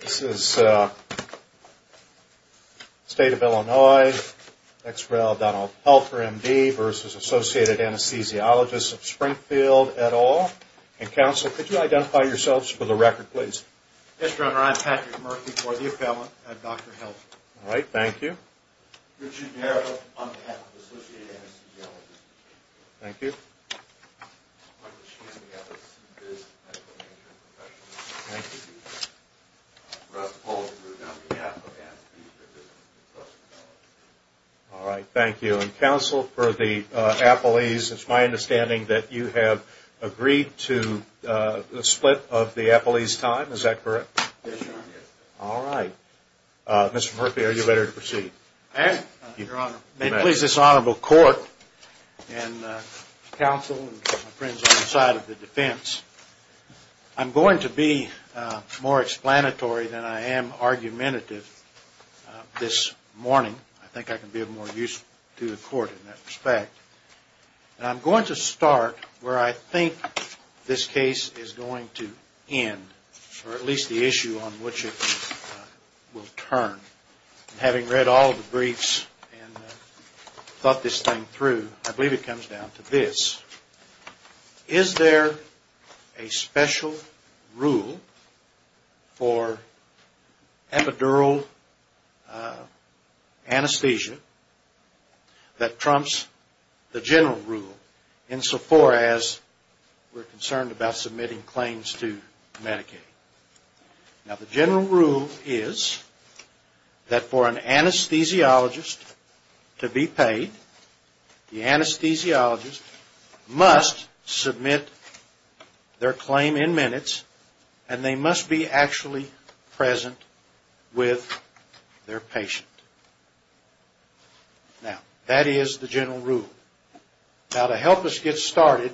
This is State of Illinois, Ex Rel. Donald Pelter, M.D. versus Associated Anesthesiologists of Springfield, et al. And, Counsel, could you identify yourselves for the record, please? Yes, Your Honor. I'm Patrick Murphy for the appellant. I'm Dr. Pelter. All right. Thank you. Richard Nero on behalf of Associated Anesthesiologists. Thank you. Michael Sheehan on behalf of the C.B.I.S. Medical Management Professionals. Thank you. Russ Paulson on behalf of the A.B.I.S. Medical Management Professionals. All right. Thank you. And, Counsel, for the appellees, it's my understanding that you have agreed to the split of the appellees' time. Is that correct? Yes, Your Honor. All right. Mr. Murphy, are you ready to proceed? I am, Your Honor. May it please this Honorable Court and Counsel and my friends on the side of the defense, I'm going to be more explanatory than I am argumentative this morning. I think I can be of more use to the Court in that respect. And I'm going to start where I think this case is going to end, or at least the issue on which it will turn. And having read all of the briefs and thought this thing through, I believe it comes down to this. Is there a special rule for epidural anesthesia that trumps the general rule, insofar as we're concerned about submitting claims to Medicaid? Now, the general rule is that for an anesthesiologist to be paid, the anesthesiologist must submit their claim in minutes, and they must be actually present with their patient. Now, that is the general rule. Now, to help us get started,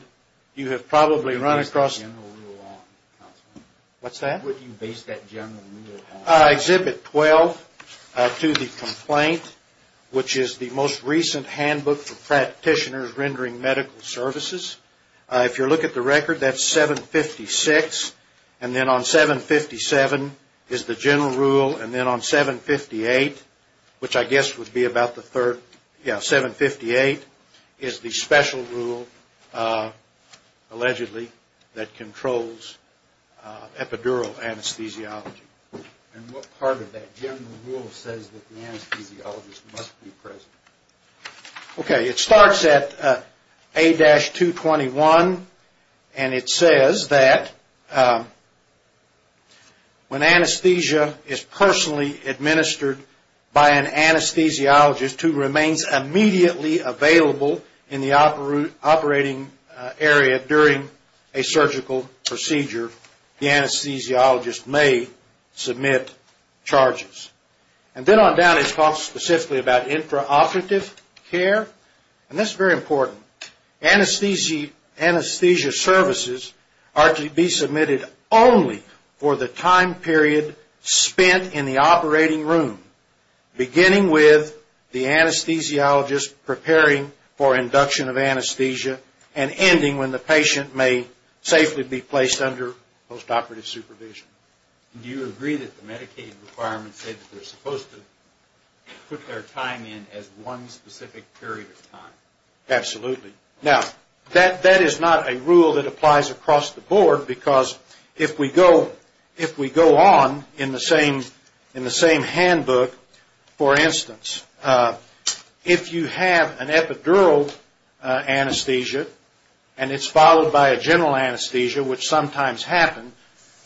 you have probably run across... What do you base that general rule on, Counselor? What's that? What do you base that general rule on? Exhibit 12 to the complaint, which is the most recent handbook for practitioners rendering medical services. If you look at the record, that's 756. And then on 757 is the general rule. And then on 758, which I guess would be about the third... Yeah, 758 is the special rule, allegedly, that controls epidural anesthesiology. And what part of that general rule says that the anesthesiologist must be present? Okay, it starts at A-221, and it says that when anesthesia is personally administered by an anesthesiologist who remains immediately available in the operating area during a surgical procedure, the anesthesiologist may submit charges. And then on down it talks specifically about intraoperative care. And that's very important. Anesthesia services are to be submitted only for the time period spent in the operating room, beginning with the anesthesiologist preparing for induction of anesthesia and ending when the patient may safely be placed under postoperative supervision. Do you agree that the Medicaid requirements say that they're supposed to put their time in as one specific period of time? Absolutely. Now, that is not a rule that applies across the board because if we go on in the same handbook, for instance, if you have an epidural anesthesia and it's followed by a general anesthesia, which sometimes happens,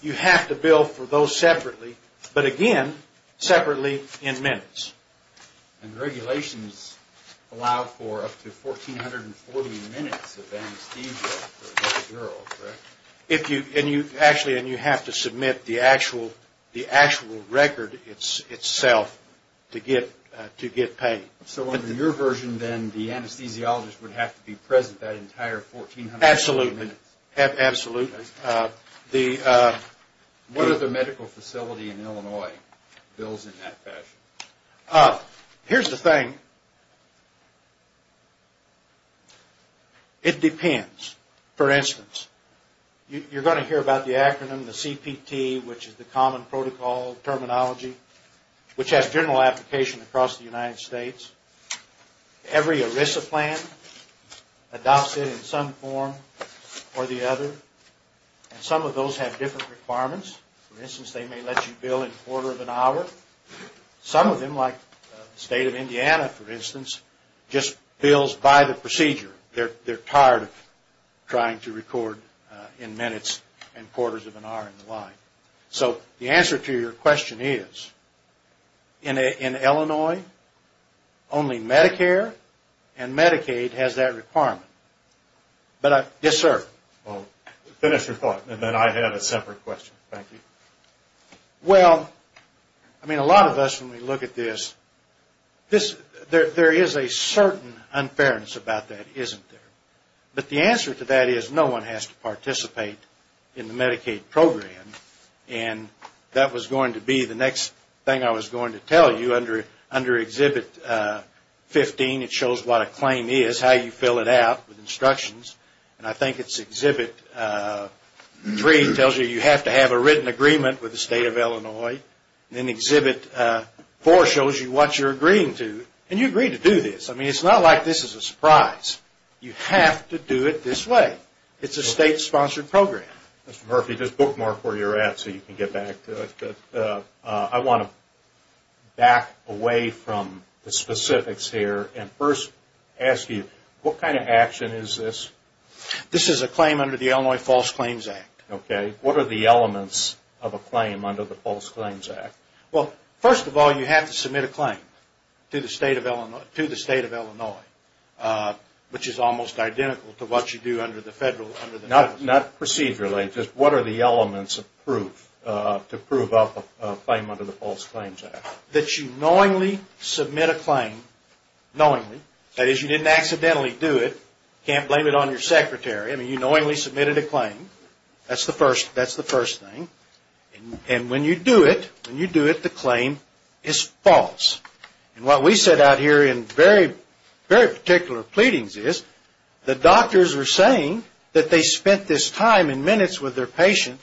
you have to bill for those separately, but again, separately in minutes. And regulations allow for up to 1,440 minutes of anesthesia for an epidural, correct? Actually, and you have to submit the actual record itself to get paid. So under your version, then, the anesthesiologist would have to be present that entire 1,440 minutes? Absolutely. Absolutely. What are the medical facility in Illinois bills in that fashion? Here's the thing. It depends. For instance, you're going to hear about the acronym, the CPT, which is the common protocol terminology, which has general application across the United States. Every ERISA plan adopts it in some form or the other, and some of those have different requirements. For instance, they may let you bill in a quarter of an hour. Some of them, like the state of Indiana, for instance, just bills by the procedure. They're tired of trying to record in minutes and quarters of an hour and the like. So the answer to your question is, in Illinois, only Medicare and Medicaid has that requirement. Yes, sir? Finish your thought, and then I have a separate question. Thank you. Well, I mean, a lot of us, when we look at this, there is a certain unfairness about that, isn't there? But the answer to that is no one has to participate in the Medicaid program, and that was going to be the next thing I was going to tell you. Under Exhibit 15, it shows what a claim is, how you fill it out with instructions, and I think it's Exhibit 3 tells you you have to have a written agreement with the state of Illinois, and then Exhibit 4 shows you what you're agreeing to, and you agree to do this. You have to do it this way. It's a state-sponsored program. Mr. Murphy, just bookmark where you're at so you can get back to it. I want to back away from the specifics here and first ask you, what kind of action is this? This is a claim under the Illinois False Claims Act. Okay. What are the elements of a claim under the False Claims Act? Well, first of all, you have to submit a claim to the state of Illinois, which is almost identical to what you do under the federal, under the state. Not procedurally, just what are the elements of proof to prove a claim under the False Claims Act? That you knowingly submit a claim, knowingly. That is, you didn't accidentally do it. Can't blame it on your secretary. I mean, you knowingly submitted a claim. That's the first thing. And when you do it, when you do it, the claim is false. And what we said out here in very, very particular pleadings is, the doctors were saying that they spent this time and minutes with their patient,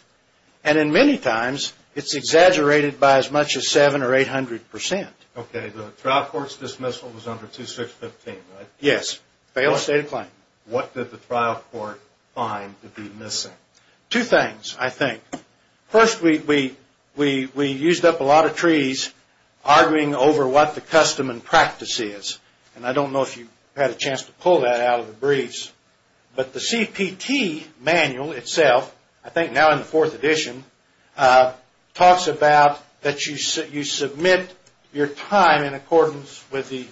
and in many times, it's exaggerated by as much as 7 or 800 percent. Okay. The trial court's dismissal was under 2615, right? Yes. Failed state of claim. What did the trial court find to be missing? Two things, I think. First, we used up a lot of trees arguing over what the custom and practice is. And I don't know if you had a chance to pull that out of the briefs. But the CPT manual itself, I think now in the fourth edition, talks about that you submit your time in accordance with the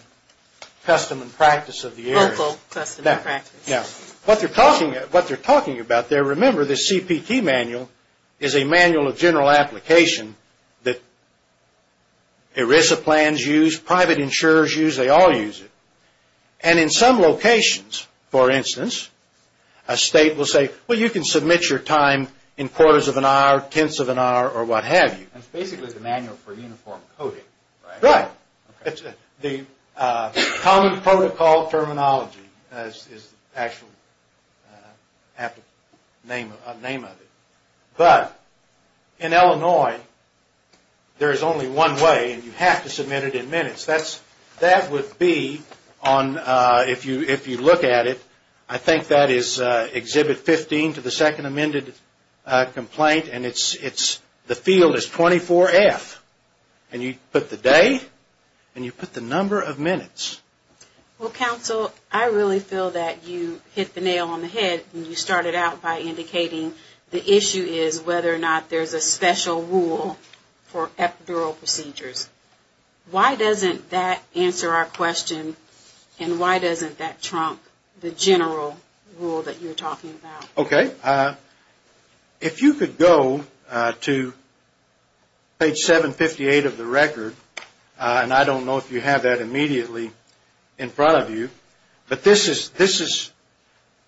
custom and practice of the area. Local custom and practice. Now, what they're talking about there, remember, the CPT manual is a manual of general application that ERISA plans use, private insurers use, they all use it. And in some locations, for instance, a state will say, well, you can submit your time in quarters of an hour, tenths of an hour, or what have you. It's basically the manual for uniform coding, right? Right. Common protocol terminology is the actual name of it. But in Illinois, there's only one way, and you have to submit it in minutes. That would be, if you look at it, I think that is Exhibit 15 to the second amended complaint, and the field is 24F. And you put the day, and you put the number of minutes. Well, counsel, I really feel that you hit the nail on the head when you started out by indicating the issue is whether or not there's a special rule for epidural procedures. Why doesn't that answer our question, and why doesn't that trump the general rule that you're talking about? Okay. If you could go to page 758 of the record, and I don't know if you have that immediately in front of you, but this is,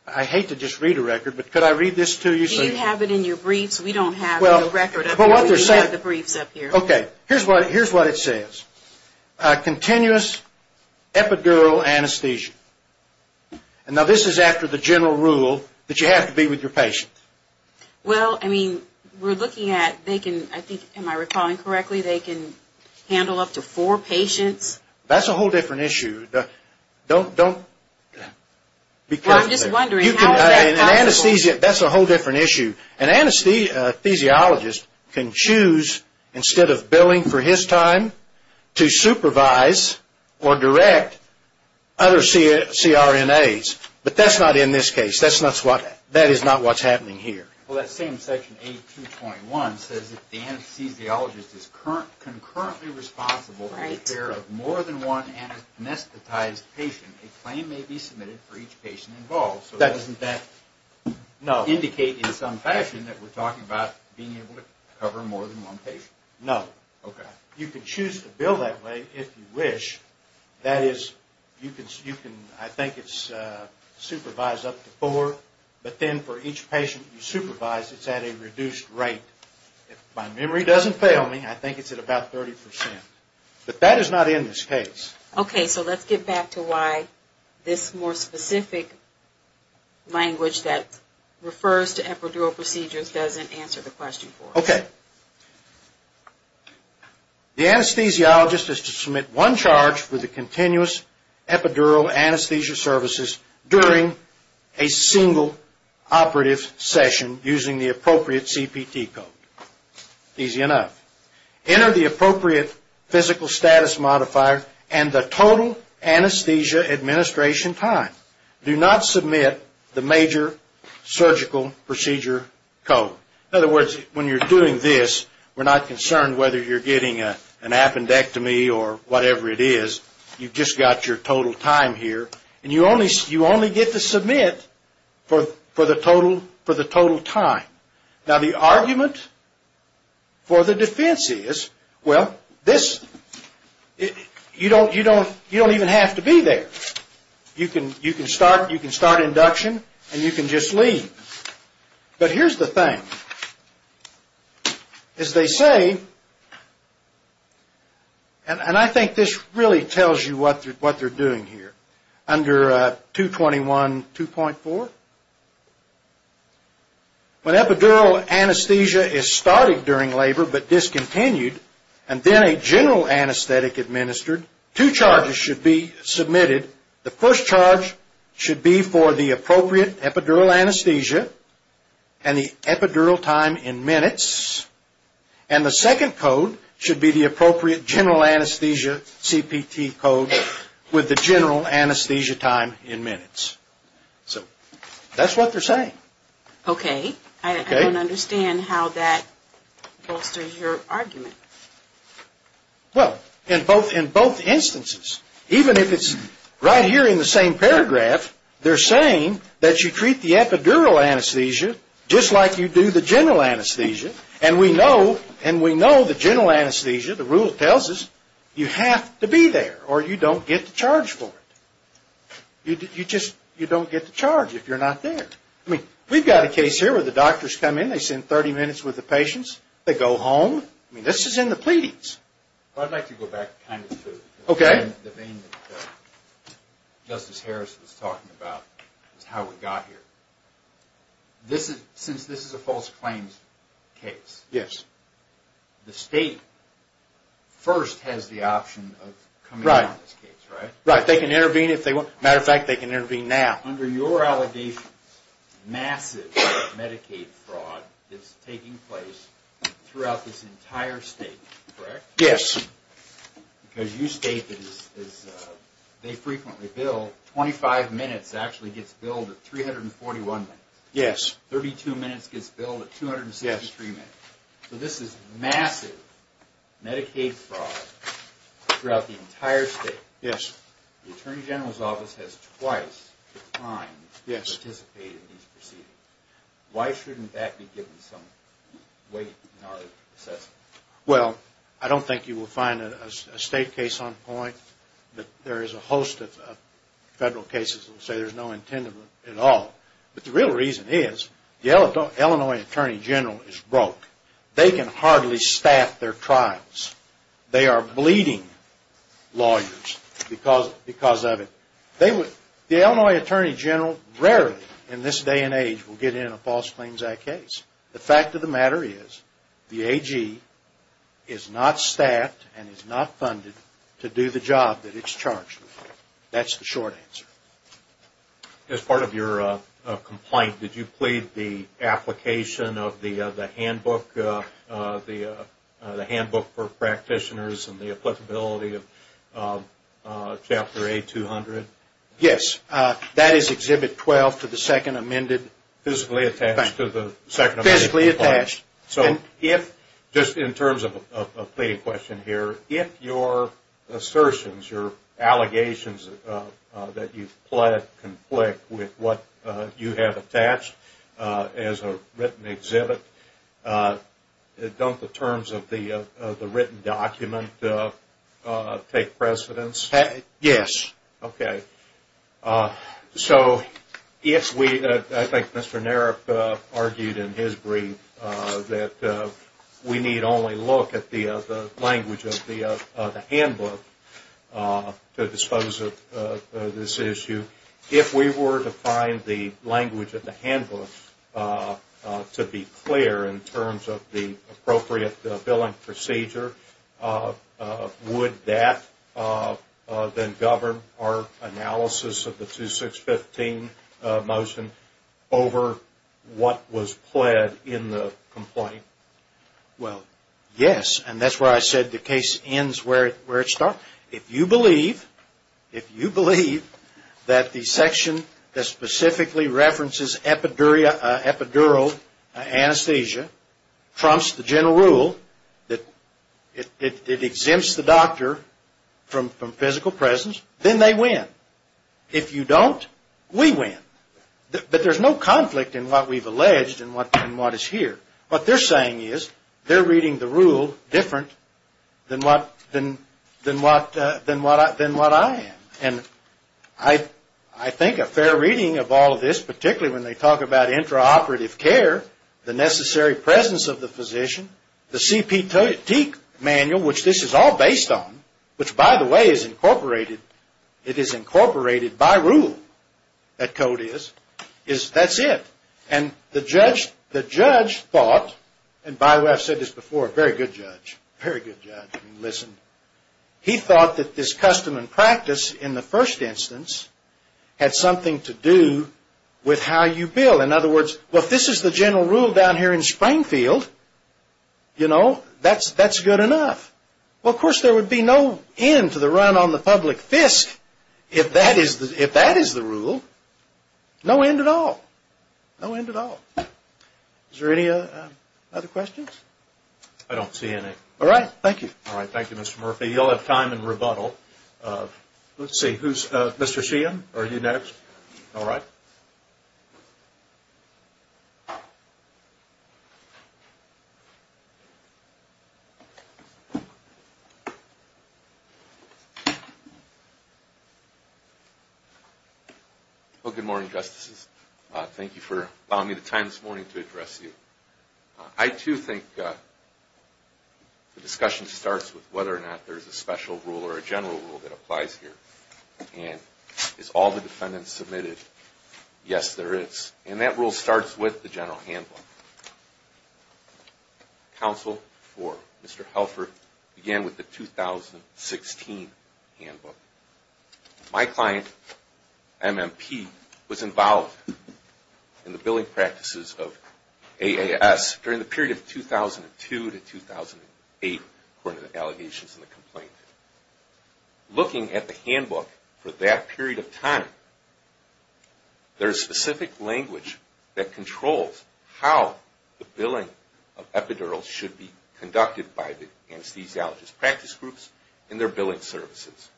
I hate to just read a record, but could I read this to you? Do you have it in your briefs? We don't have the record up here. We have the briefs up here. Okay. Here's what it says. Continuous epidural anesthesia. And now this is after the general rule that you have to be with your patient. Well, I mean, we're looking at, they can, I think, am I recalling correctly, they can handle up to four patients? That's a whole different issue. Don't, don't, be careful. Well, I'm just wondering, how is that possible? That's a whole different issue. An anesthesiologist can choose, instead of billing for his time, to supervise or direct other CRNAs. But that's not in this case. That's not what, that is not what's happening here. Well, that same section, A221, says if the anesthesiologist is concurrently responsible for the care of more than one anesthetized patient, a claim may be submitted for each patient involved. So doesn't that indicate in some fashion that we're talking about being able to cover more than one patient? No. Okay. You can choose to bill that way if you wish. That is, you can, I think it's supervised up to four. But then for each patient you supervise, it's at a reduced rate. If my memory doesn't fail me, I think it's at about 30%. But that is not in this case. Okay, so let's get back to why this more specific language that refers to epidural procedures doesn't answer the question for us. Okay. The anesthesiologist is to submit one charge for the continuous epidural anesthesia services during a single operative session using the appropriate CPT code. Easy enough. Enter the appropriate physical status modifier and the total anesthesia administration time. Do not submit the major surgical procedure code. In other words, when you're doing this, we're not concerned whether you're getting an appendectomy or whatever it is. You've just got your total time here. And you only get to submit for the total time. Now, the argument for the defense is, well, this, you don't even have to be there. You can start induction and you can just leave. But here's the thing. As they say, and I think this really tells you what they're doing here. Under 221.2.4, when epidural anesthesia is started during labor but discontinued and then a general anesthetic administered, two charges should be submitted. The first charge should be for the appropriate epidural anesthesia and the epidural time in minutes. And the second code should be the appropriate general anesthesia CPT code with the general anesthesia time in minutes. So that's what they're saying. Okay. I don't understand how that bolsters your argument. Well, in both instances, even if it's right here in the same paragraph, they're saying that you treat the epidural anesthesia just like you do the general anesthesia. And we know the general anesthesia, the rule tells us, you have to be there or you don't get the charge for it. You just don't get the charge if you're not there. I mean, we've got a case here where the doctors come in. They send 30 minutes with the patients. They go home. I mean, this is in the pleadings. I'd like to go back kind of to the vein that Justice Harris was talking about is how we got here. Since this is a false claims case, the state first has the option of coming in on this case, right? Right. They can intervene if they want. As a matter of fact, they can intervene now. Under your allegations, massive Medicaid fraud is taking place throughout this entire state, correct? Yes. Because you state that as they frequently bill, 25 minutes actually gets billed at 341 minutes. Yes. 32 minutes gets billed at 263 minutes. Yes. So this is massive Medicaid fraud throughout the entire state. Yes. The Attorney General's Office has twice declined to participate in these proceedings. Why shouldn't that be given some weight in our assessment? Well, I don't think you will find a state case on point. There is a host of federal cases that say there's no intent at all. But the real reason is the Illinois Attorney General is broke. They can hardly staff their trials. They are bleeding lawyers because of it. The Illinois Attorney General rarely in this day and age will get in a false claims act case. The fact of the matter is the AG is not staffed and is not funded to do the job that it's charged with. That's the short answer. As part of your complaint, did you plead the application of the handbook for practitioners and the applicability of Chapter A200? Yes. That is Exhibit 12 to the second amended. Physically attached to the second amended. Physically attached. So if, just in terms of a pleading question here, if your assertions, your allegations that you've pled conflict with what you have attached as a written exhibit, don't the terms of the written document take precedence? Yes. Okay. So if we, I think Mr. Naref argued in his brief, that we need only look at the language of the handbook to dispose of this issue. If we were to find the language of the handbook to be clear in terms of the appropriate billing procedure, would that then govern our analysis of the 2615 motion over what was pled in the complaint? Well, yes. And that's where I said the case ends where it starts. If you believe, if you believe that the section that specifically references epidural anesthesia trumps the general rule that it exempts the doctor from physical presence, then they win. If you don't, we win. But there's no conflict in what we've alleged and what is here. What they're saying is they're reading the rule different than what I am. And I think a fair reading of all of this, particularly when they talk about intraoperative care, the necessary presence of the physician, the CPT manual, which this is all based on, which by the way is incorporated, it is incorporated by rule, that code is, is that's it. And the judge thought, and by the way I've said this before, very good judge, very good judge, listen. He thought that this custom and practice in the first instance had something to do with how you bill. In other words, well, if this is the general rule down here in Springfield, you know, that's good enough. Well, of course, there would be no end to the run on the public fisk if that is the rule. No end at all. No end at all. Is there any other questions? I don't see any. All right. Thank you. All right. Thank you, Mr. Murphy. You'll have time in rebuttal. Let's see, who's, Mr. Sheehan, are you next? All right. Well, good morning, Justices. Thank you for allowing me the time this morning to address you. I, too, think the discussion starts with whether or not there's a special rule or a general rule that applies here. And is all the defendants submitted? Yes, there is. And that rule starts with the general handbook. Counsel for Mr. Helfer began with the 2016 handbook. My client, MMP, was involved in the billing practices of AAS during the period of 2002 to 2008, according to the allegations in the complaint. Looking at the handbook for that period of time, there's specific language that controls how the billing of epidurals should be conducted by the anesthesiologist practice groups and their billing services.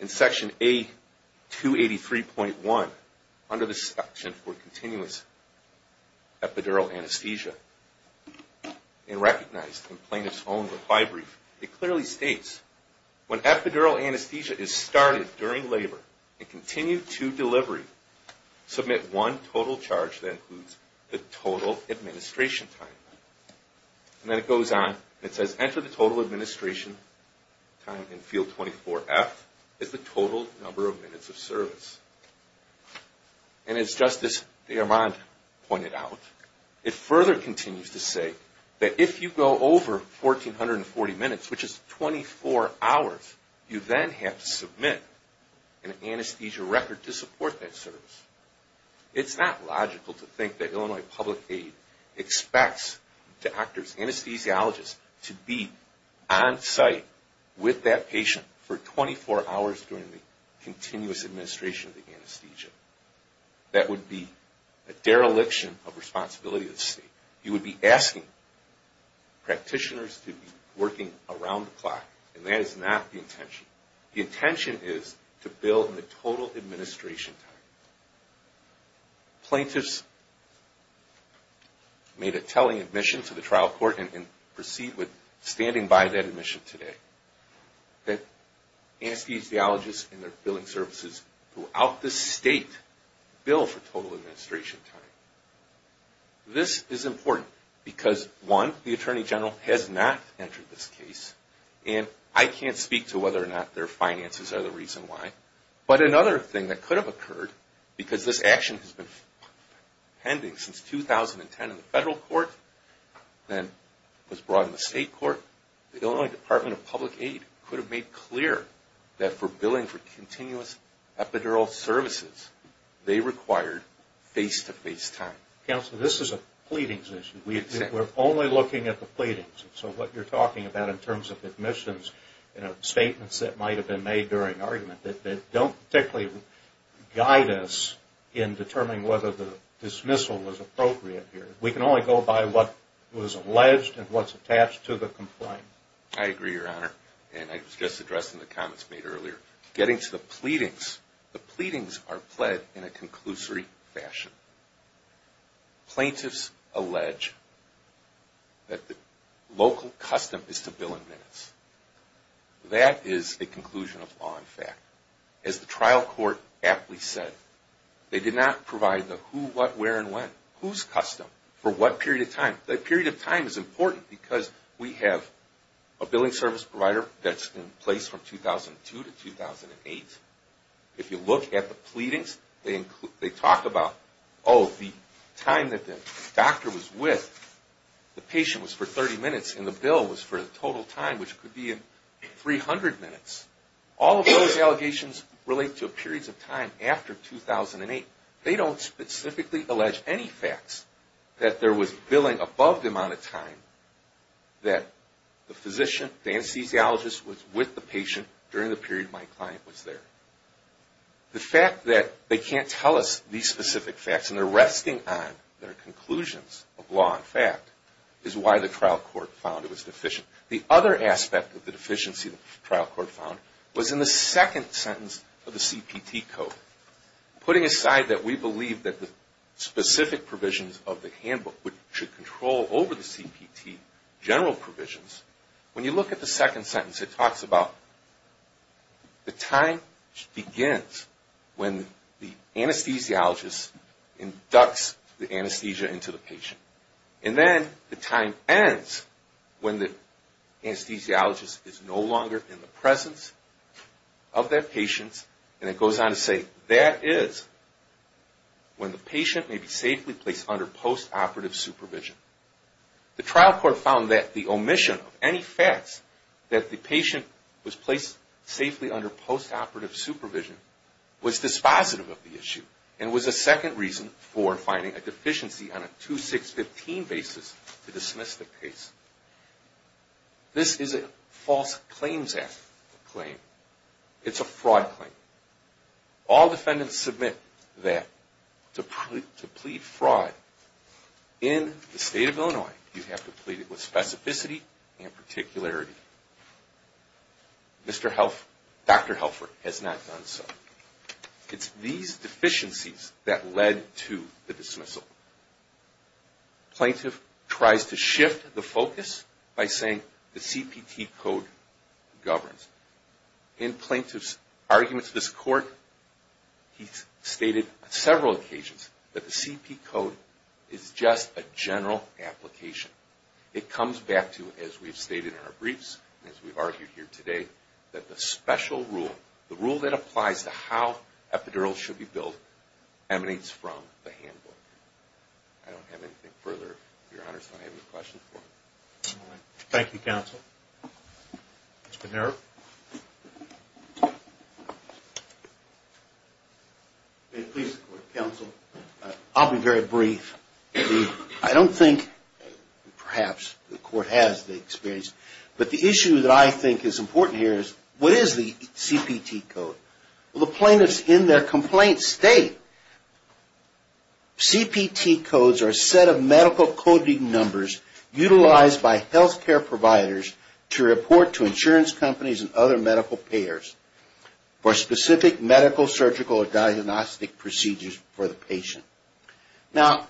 In Section A283.1, under the section for continuous epidural anesthesia, and recognized in plaintiff's own reply brief, it clearly states, when epidural anesthesia is started during labor and continued to delivery, submit one total charge that includes the total administration time. And then it goes on and it says, enter the total administration time in field 24F as the total number of minutes of service. And as Justice DeArmond pointed out, it further continues to say that if you go over 1,440 minutes, which is 24 hours, you then have to submit an anesthesia record to support that service. It's not logical to think that Illinois Public Aid expects doctors, anesthesiologists, to be on site with that patient for 24 hours during the continuous administration of the anesthesia. That would be a dereliction of responsibility of the state. You would be asking practitioners to be working around the clock, and that is not the intention. The intention is to bill in the total administration time. Plaintiffs made a telling admission to the trial court, and proceed with standing by that admission today, that anesthesiologists and their billing services throughout the state bill for total administration time. This is important because, one, the Attorney General has not entered this case, and I can't speak to whether or not their finances are the reason why. But another thing that could have occurred, because this action has been pending since 2010 in the federal court, then was brought in the state court, the Illinois Department of Public Aid could have made clear that for billing for continuous epidural services, they required face-to-face time. Counselor, this is a pleadings issue. We're only looking at the pleadings. So what you're talking about in terms of admissions, statements that might have been made during argument, that don't particularly guide us in determining whether the dismissal was appropriate here. We can only go by what was alleged and what's attached to the complaint. I agree, Your Honor, and I was just addressing the comments made earlier. Getting to the pleadings, the pleadings are pled in a conclusory fashion. Plaintiffs allege that the local custom is to bill in minutes. That is a conclusion of law and fact. As the trial court aptly said, they did not provide the who, what, where, and when. Who's custom? For what period of time? That period of time is important because we have a billing service provider that's in place from 2002 to 2008. If you look at the pleadings, they talk about, oh, the time that the doctor was with the patient was for 30 minutes and the bill was for the total time, which could be 300 minutes. All of those allegations relate to periods of time after 2008. They don't specifically allege any facts that there was billing above the amount of time that the physician, the anesthesiologist was with the patient during the period my client was there. The fact that they can't tell us these specific facts and they're resting on their conclusions of law and fact is why the trial court found it was deficient. The other aspect of the deficiency the trial court found was in the second sentence of the CPT code. Putting aside that we believe that the specific provisions of the handbook should control over the CPT general provisions, when you look at the second sentence, it talks about the time begins when the anesthesiologist inducts the anesthesia into the patient. And then the time ends when the anesthesiologist is no longer in the presence of that patient. And it goes on to say, that is when the patient may be safely placed under post-operative supervision. The trial court found that the omission of any facts that the patient was placed safely under post-operative supervision was dispositive of the issue and was a second reason for finding a deficiency on a 2-6-15 basis to dismiss the case. This is a false claims act claim. It's a fraud claim. All defendants submit that to plead fraud in the state of Illinois, you have to plead it with specificity and particularity. Dr. Helfer has not done so. It's these deficiencies that led to the dismissal. Plaintiff tries to shift the focus by saying the CPT code governs. In plaintiff's argument to this court, he's stated several occasions that the CPT code is just a general application. It comes back to, as we've stated in our briefs, as we've argued here today, that the special rule, the rule that applies to how epidurals should be billed, emanates from the handbook. I don't have anything further. Your Honor, so I don't have any questions. Thank you, counsel. Mr. Nero. Please, counsel. I'll be very brief. I don't think, perhaps the court has the experience, but the issue that I think is important here is, what is the CPT code? Well, the plaintiff's in their complaint state. CPT codes are a set of medical coding numbers utilized by healthcare providers to report to insurance companies and other medical payers for specific medical, surgical, or diagnostic procedures for the patient. Now,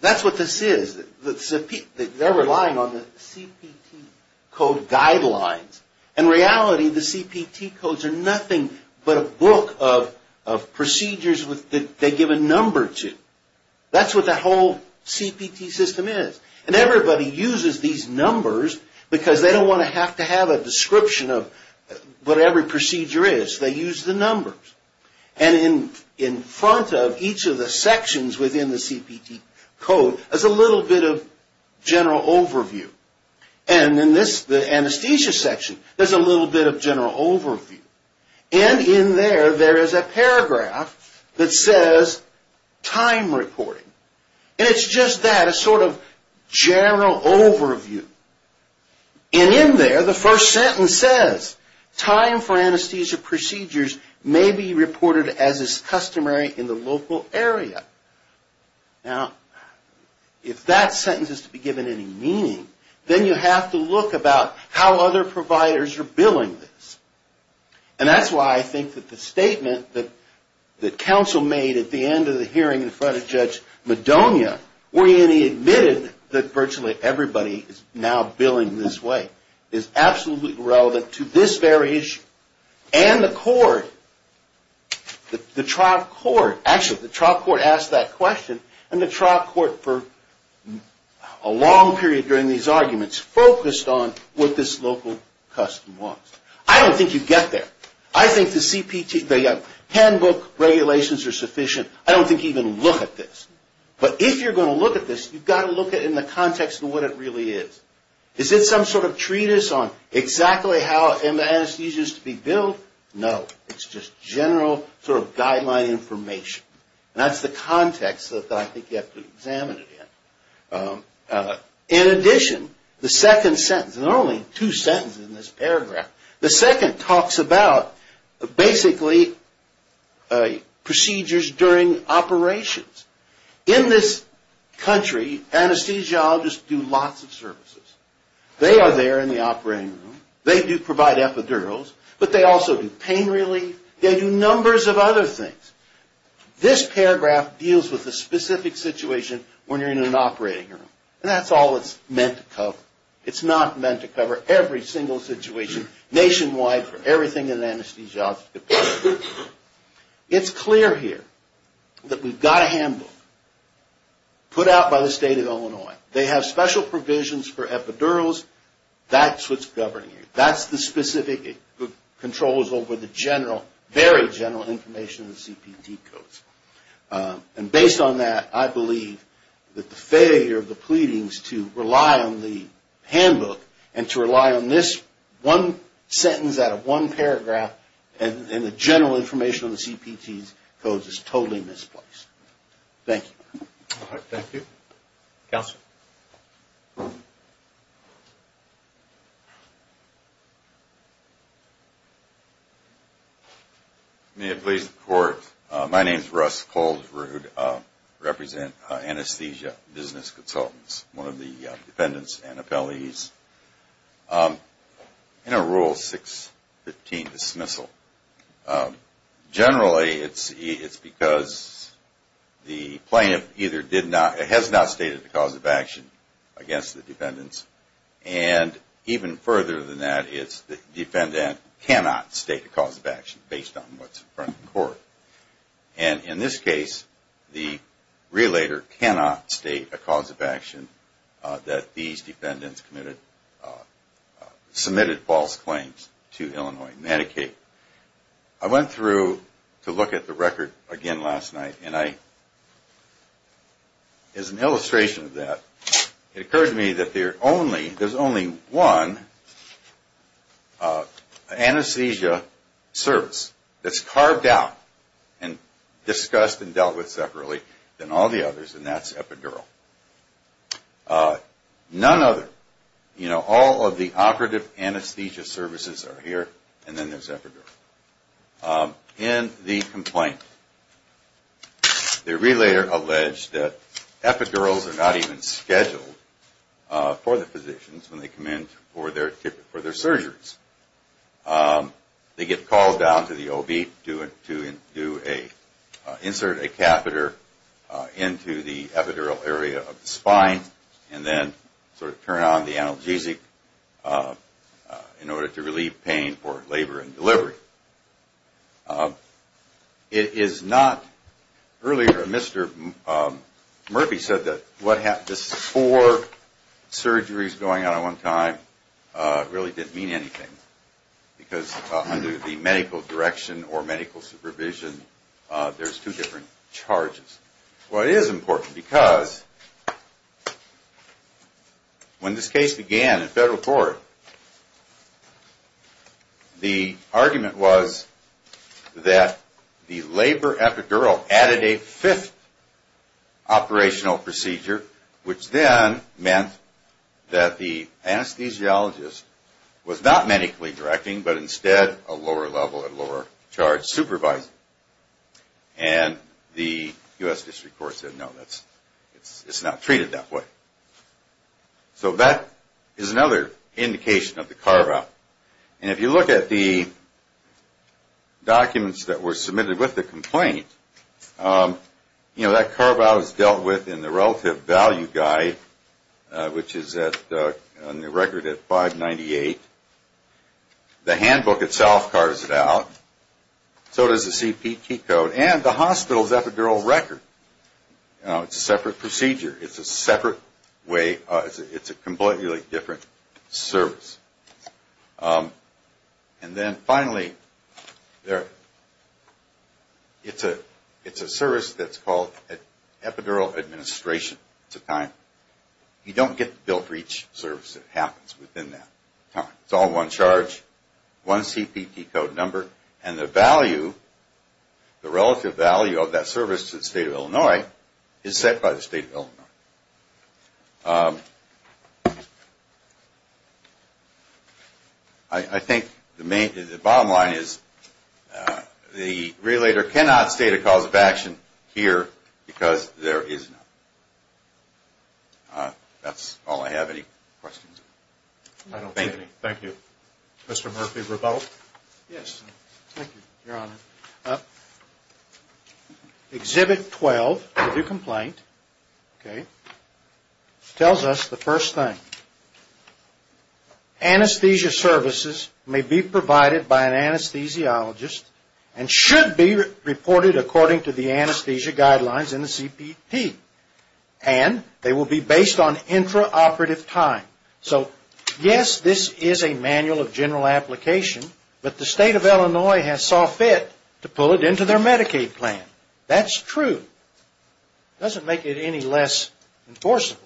that's what this is. They're relying on the CPT code guidelines. In reality, the CPT codes are nothing but a book of procedures that they give a number to. That's what the whole CPT system is. And everybody uses these numbers because they don't want to have to have a description of what every procedure is. They use the numbers. And in front of each of the sections within the CPT code is a little bit of general overview. And in this, the anesthesia section, there's a little bit of general overview. And in there, there is a paragraph that says, time reporting. And it's just that, a sort of general overview. And in there, the first sentence says, time for anesthesia procedures may be reported as is customary in the local area. Now, if that sentence is to be given any meaning, then you have to look about how other providers are billing this. And that's why I think that the statement that counsel made at the end of the hearing in front of Judge Madonia, when he admitted that virtually everybody is now billing this way, is absolutely relevant to this very issue. And the court, the trial court, actually, the trial court asked that question. And the trial court, for a long period during these arguments, focused on what this local custom was. I don't think you get there. I think the CPT, the handbook regulations are sufficient. I don't think you even look at this. But if you're going to look at this, you've got to look at it in the context of what it really is. Is it some sort of treatise on exactly how anesthesia is to be billed? No. It's just general sort of guideline information. And that's the context that I think you have to examine it in. In addition, the second sentence, and there are only two sentences in this paragraph, the second talks about basically procedures during operations. In this country, anesthesiologists do lots of services. They are there in the operating room. They do provide epidurals. But they also do pain relief. They do numbers of other things. This paragraph deals with a specific situation when you're in an operating room. And that's all it's meant to cover. It's not meant to cover every single situation nationwide for everything an anesthesiologist could possibly do. It's clear here that we've got a handbook put out by the state of Illinois. They have special provisions for epidurals. That's what's governing it. That's the specific controls over the very general information in the CPT codes. And based on that, I believe that the failure of the pleadings to rely on the handbook and to rely on this one sentence out of one paragraph and the general information on the CPT codes is totally misplaced. Thank you. All right. Thank you. Counsel? May it please the Court. My name is Russ Koldrud. I represent Anesthesia Business Consultants, one of the defendants and appellees. In a Rule 615 dismissal, generally it's because the plaintiff either did not or has not stated a cause of action against the defendants. And even further than that, it's the defendant cannot state a cause of action based on what's in front of the court. And in this case, the relator cannot state a cause of action that these defendants submitted false claims to Illinois Medicaid. I went through to look at the record again last night, and as an illustration of that, it occurred to me that there's only one anesthesia service that's carved out and discussed and dealt with separately than all the others, and that's epidural. None other. All of the operative anesthesia services are here, and then there's epidural. In the complaint, the relator alleged that epidurals are not even scheduled for the physicians when they come in for their surgeries. They get called down to the OB to insert a catheter into the epidural area of the spine and then sort of turn on the analgesic in order to relieve pain for labor and delivery. It is not – earlier, Mr. Murphy said that the four surgeries going on at one time really didn't mean anything, because under the medical direction or medical supervision, there's two different charges. Well, it is important, because when this case began at federal court, the argument was that the labor epidural added a fifth operational procedure, which then meant that the anesthesiologist was not medically directing, but instead a lower-level and lower-charge supervisor. And the U.S. District Court said, no, it's not treated that way. So that is another indication of the carve-out. And if you look at the documents that were submitted with the complaint, that carve-out is dealt with in the relative value guide, which is on the record at 598. The handbook itself carves it out. So does the CPT code and the hospital's epidural record. It's a separate procedure. It's a separate way – it's a completely different service. And then finally, it's a service that's called epidural administration. You don't get the bill for each service that happens within that time. It's all one charge, one CPT code number, and the relative value of that service to the state of Illinois is set by the state of Illinois. I think the bottom line is the relator cannot state a cause of action here because there is none. That's all I have. Any questions? I don't see any. Thank you. Mr. Murphy, rebuttal? Yes. Thank you, Your Honor. Exhibit 12 of the complaint, okay? It tells us the first thing. Anesthesia services may be provided by an anesthesiologist and should be reported according to the anesthesia guidelines in the CPT, and they will be based on intraoperative time. So yes, this is a manual of general application, but the state of Illinois saw fit to pull it into their Medicaid plan. That's true. It doesn't make it any less enforceable.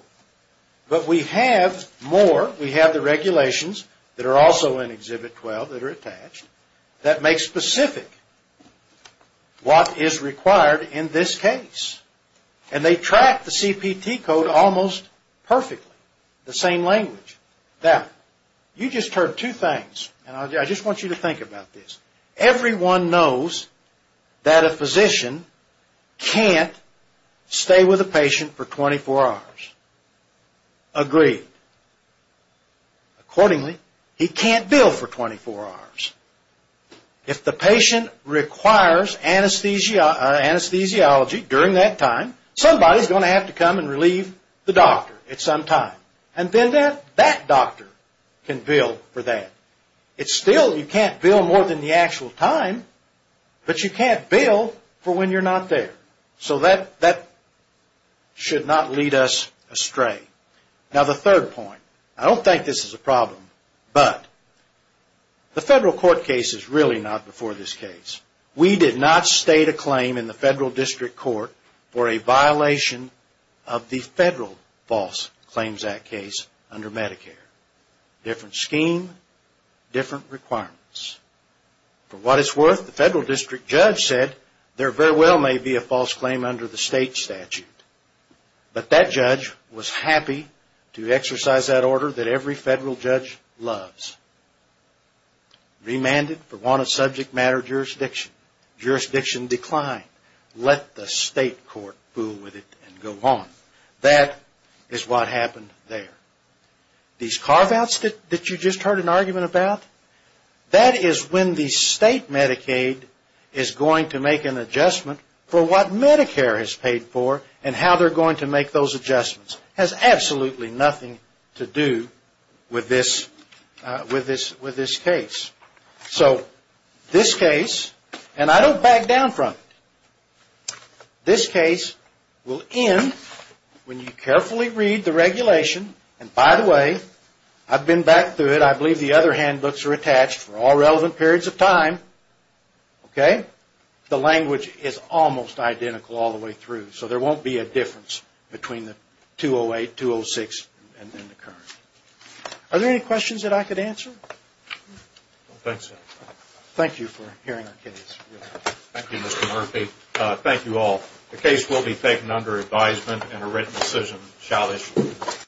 But we have more. We have the regulations that are also in Exhibit 12 that are attached that make specific what is required in this case, and they track the CPT code almost perfectly, the same language. Now, you just heard two things, and I just want you to think about this. Everyone knows that a physician can't stay with a patient for 24 hours. Agreed. Accordingly, he can't bill for 24 hours. If the patient requires anesthesiology during that time, somebody is going to have to come and relieve the doctor at some time, and then that doctor can bill for that. Still, you can't bill more than the actual time, but you can't bill for when you're not there. So that should not lead us astray. Now, the third point. I don't think this is a problem, but the federal court case is really not before this case. We did not state a claim in the federal district court for a violation of the Federal False Claims Act case under Medicare. Different scheme, different requirements. For what it's worth, the federal district judge said there very well may be a false claim under the state statute, but that judge was happy to exercise that order that every federal judge loves. Remanded for want of subject matter jurisdiction. Jurisdiction declined. Let the state court fool with it and go on. That is what happened there. These carve-outs that you just heard an argument about, that is when the state Medicaid is going to make an adjustment for what Medicare has paid for and how they're going to make those adjustments. It has absolutely nothing to do with this case. So this case, and I don't back down from it, this case will end when you carefully read the regulation. And by the way, I've been back through it. I believe the other handbooks are attached for all relevant periods of time. The language is almost identical all the way through, so there won't be a difference between the 208, 206, and then the current. Are there any questions that I could answer? Thank you for hearing our case. Thank you, Mr. Murphy. Thank you all. The case will be taken under advisement and a written decision shall issue.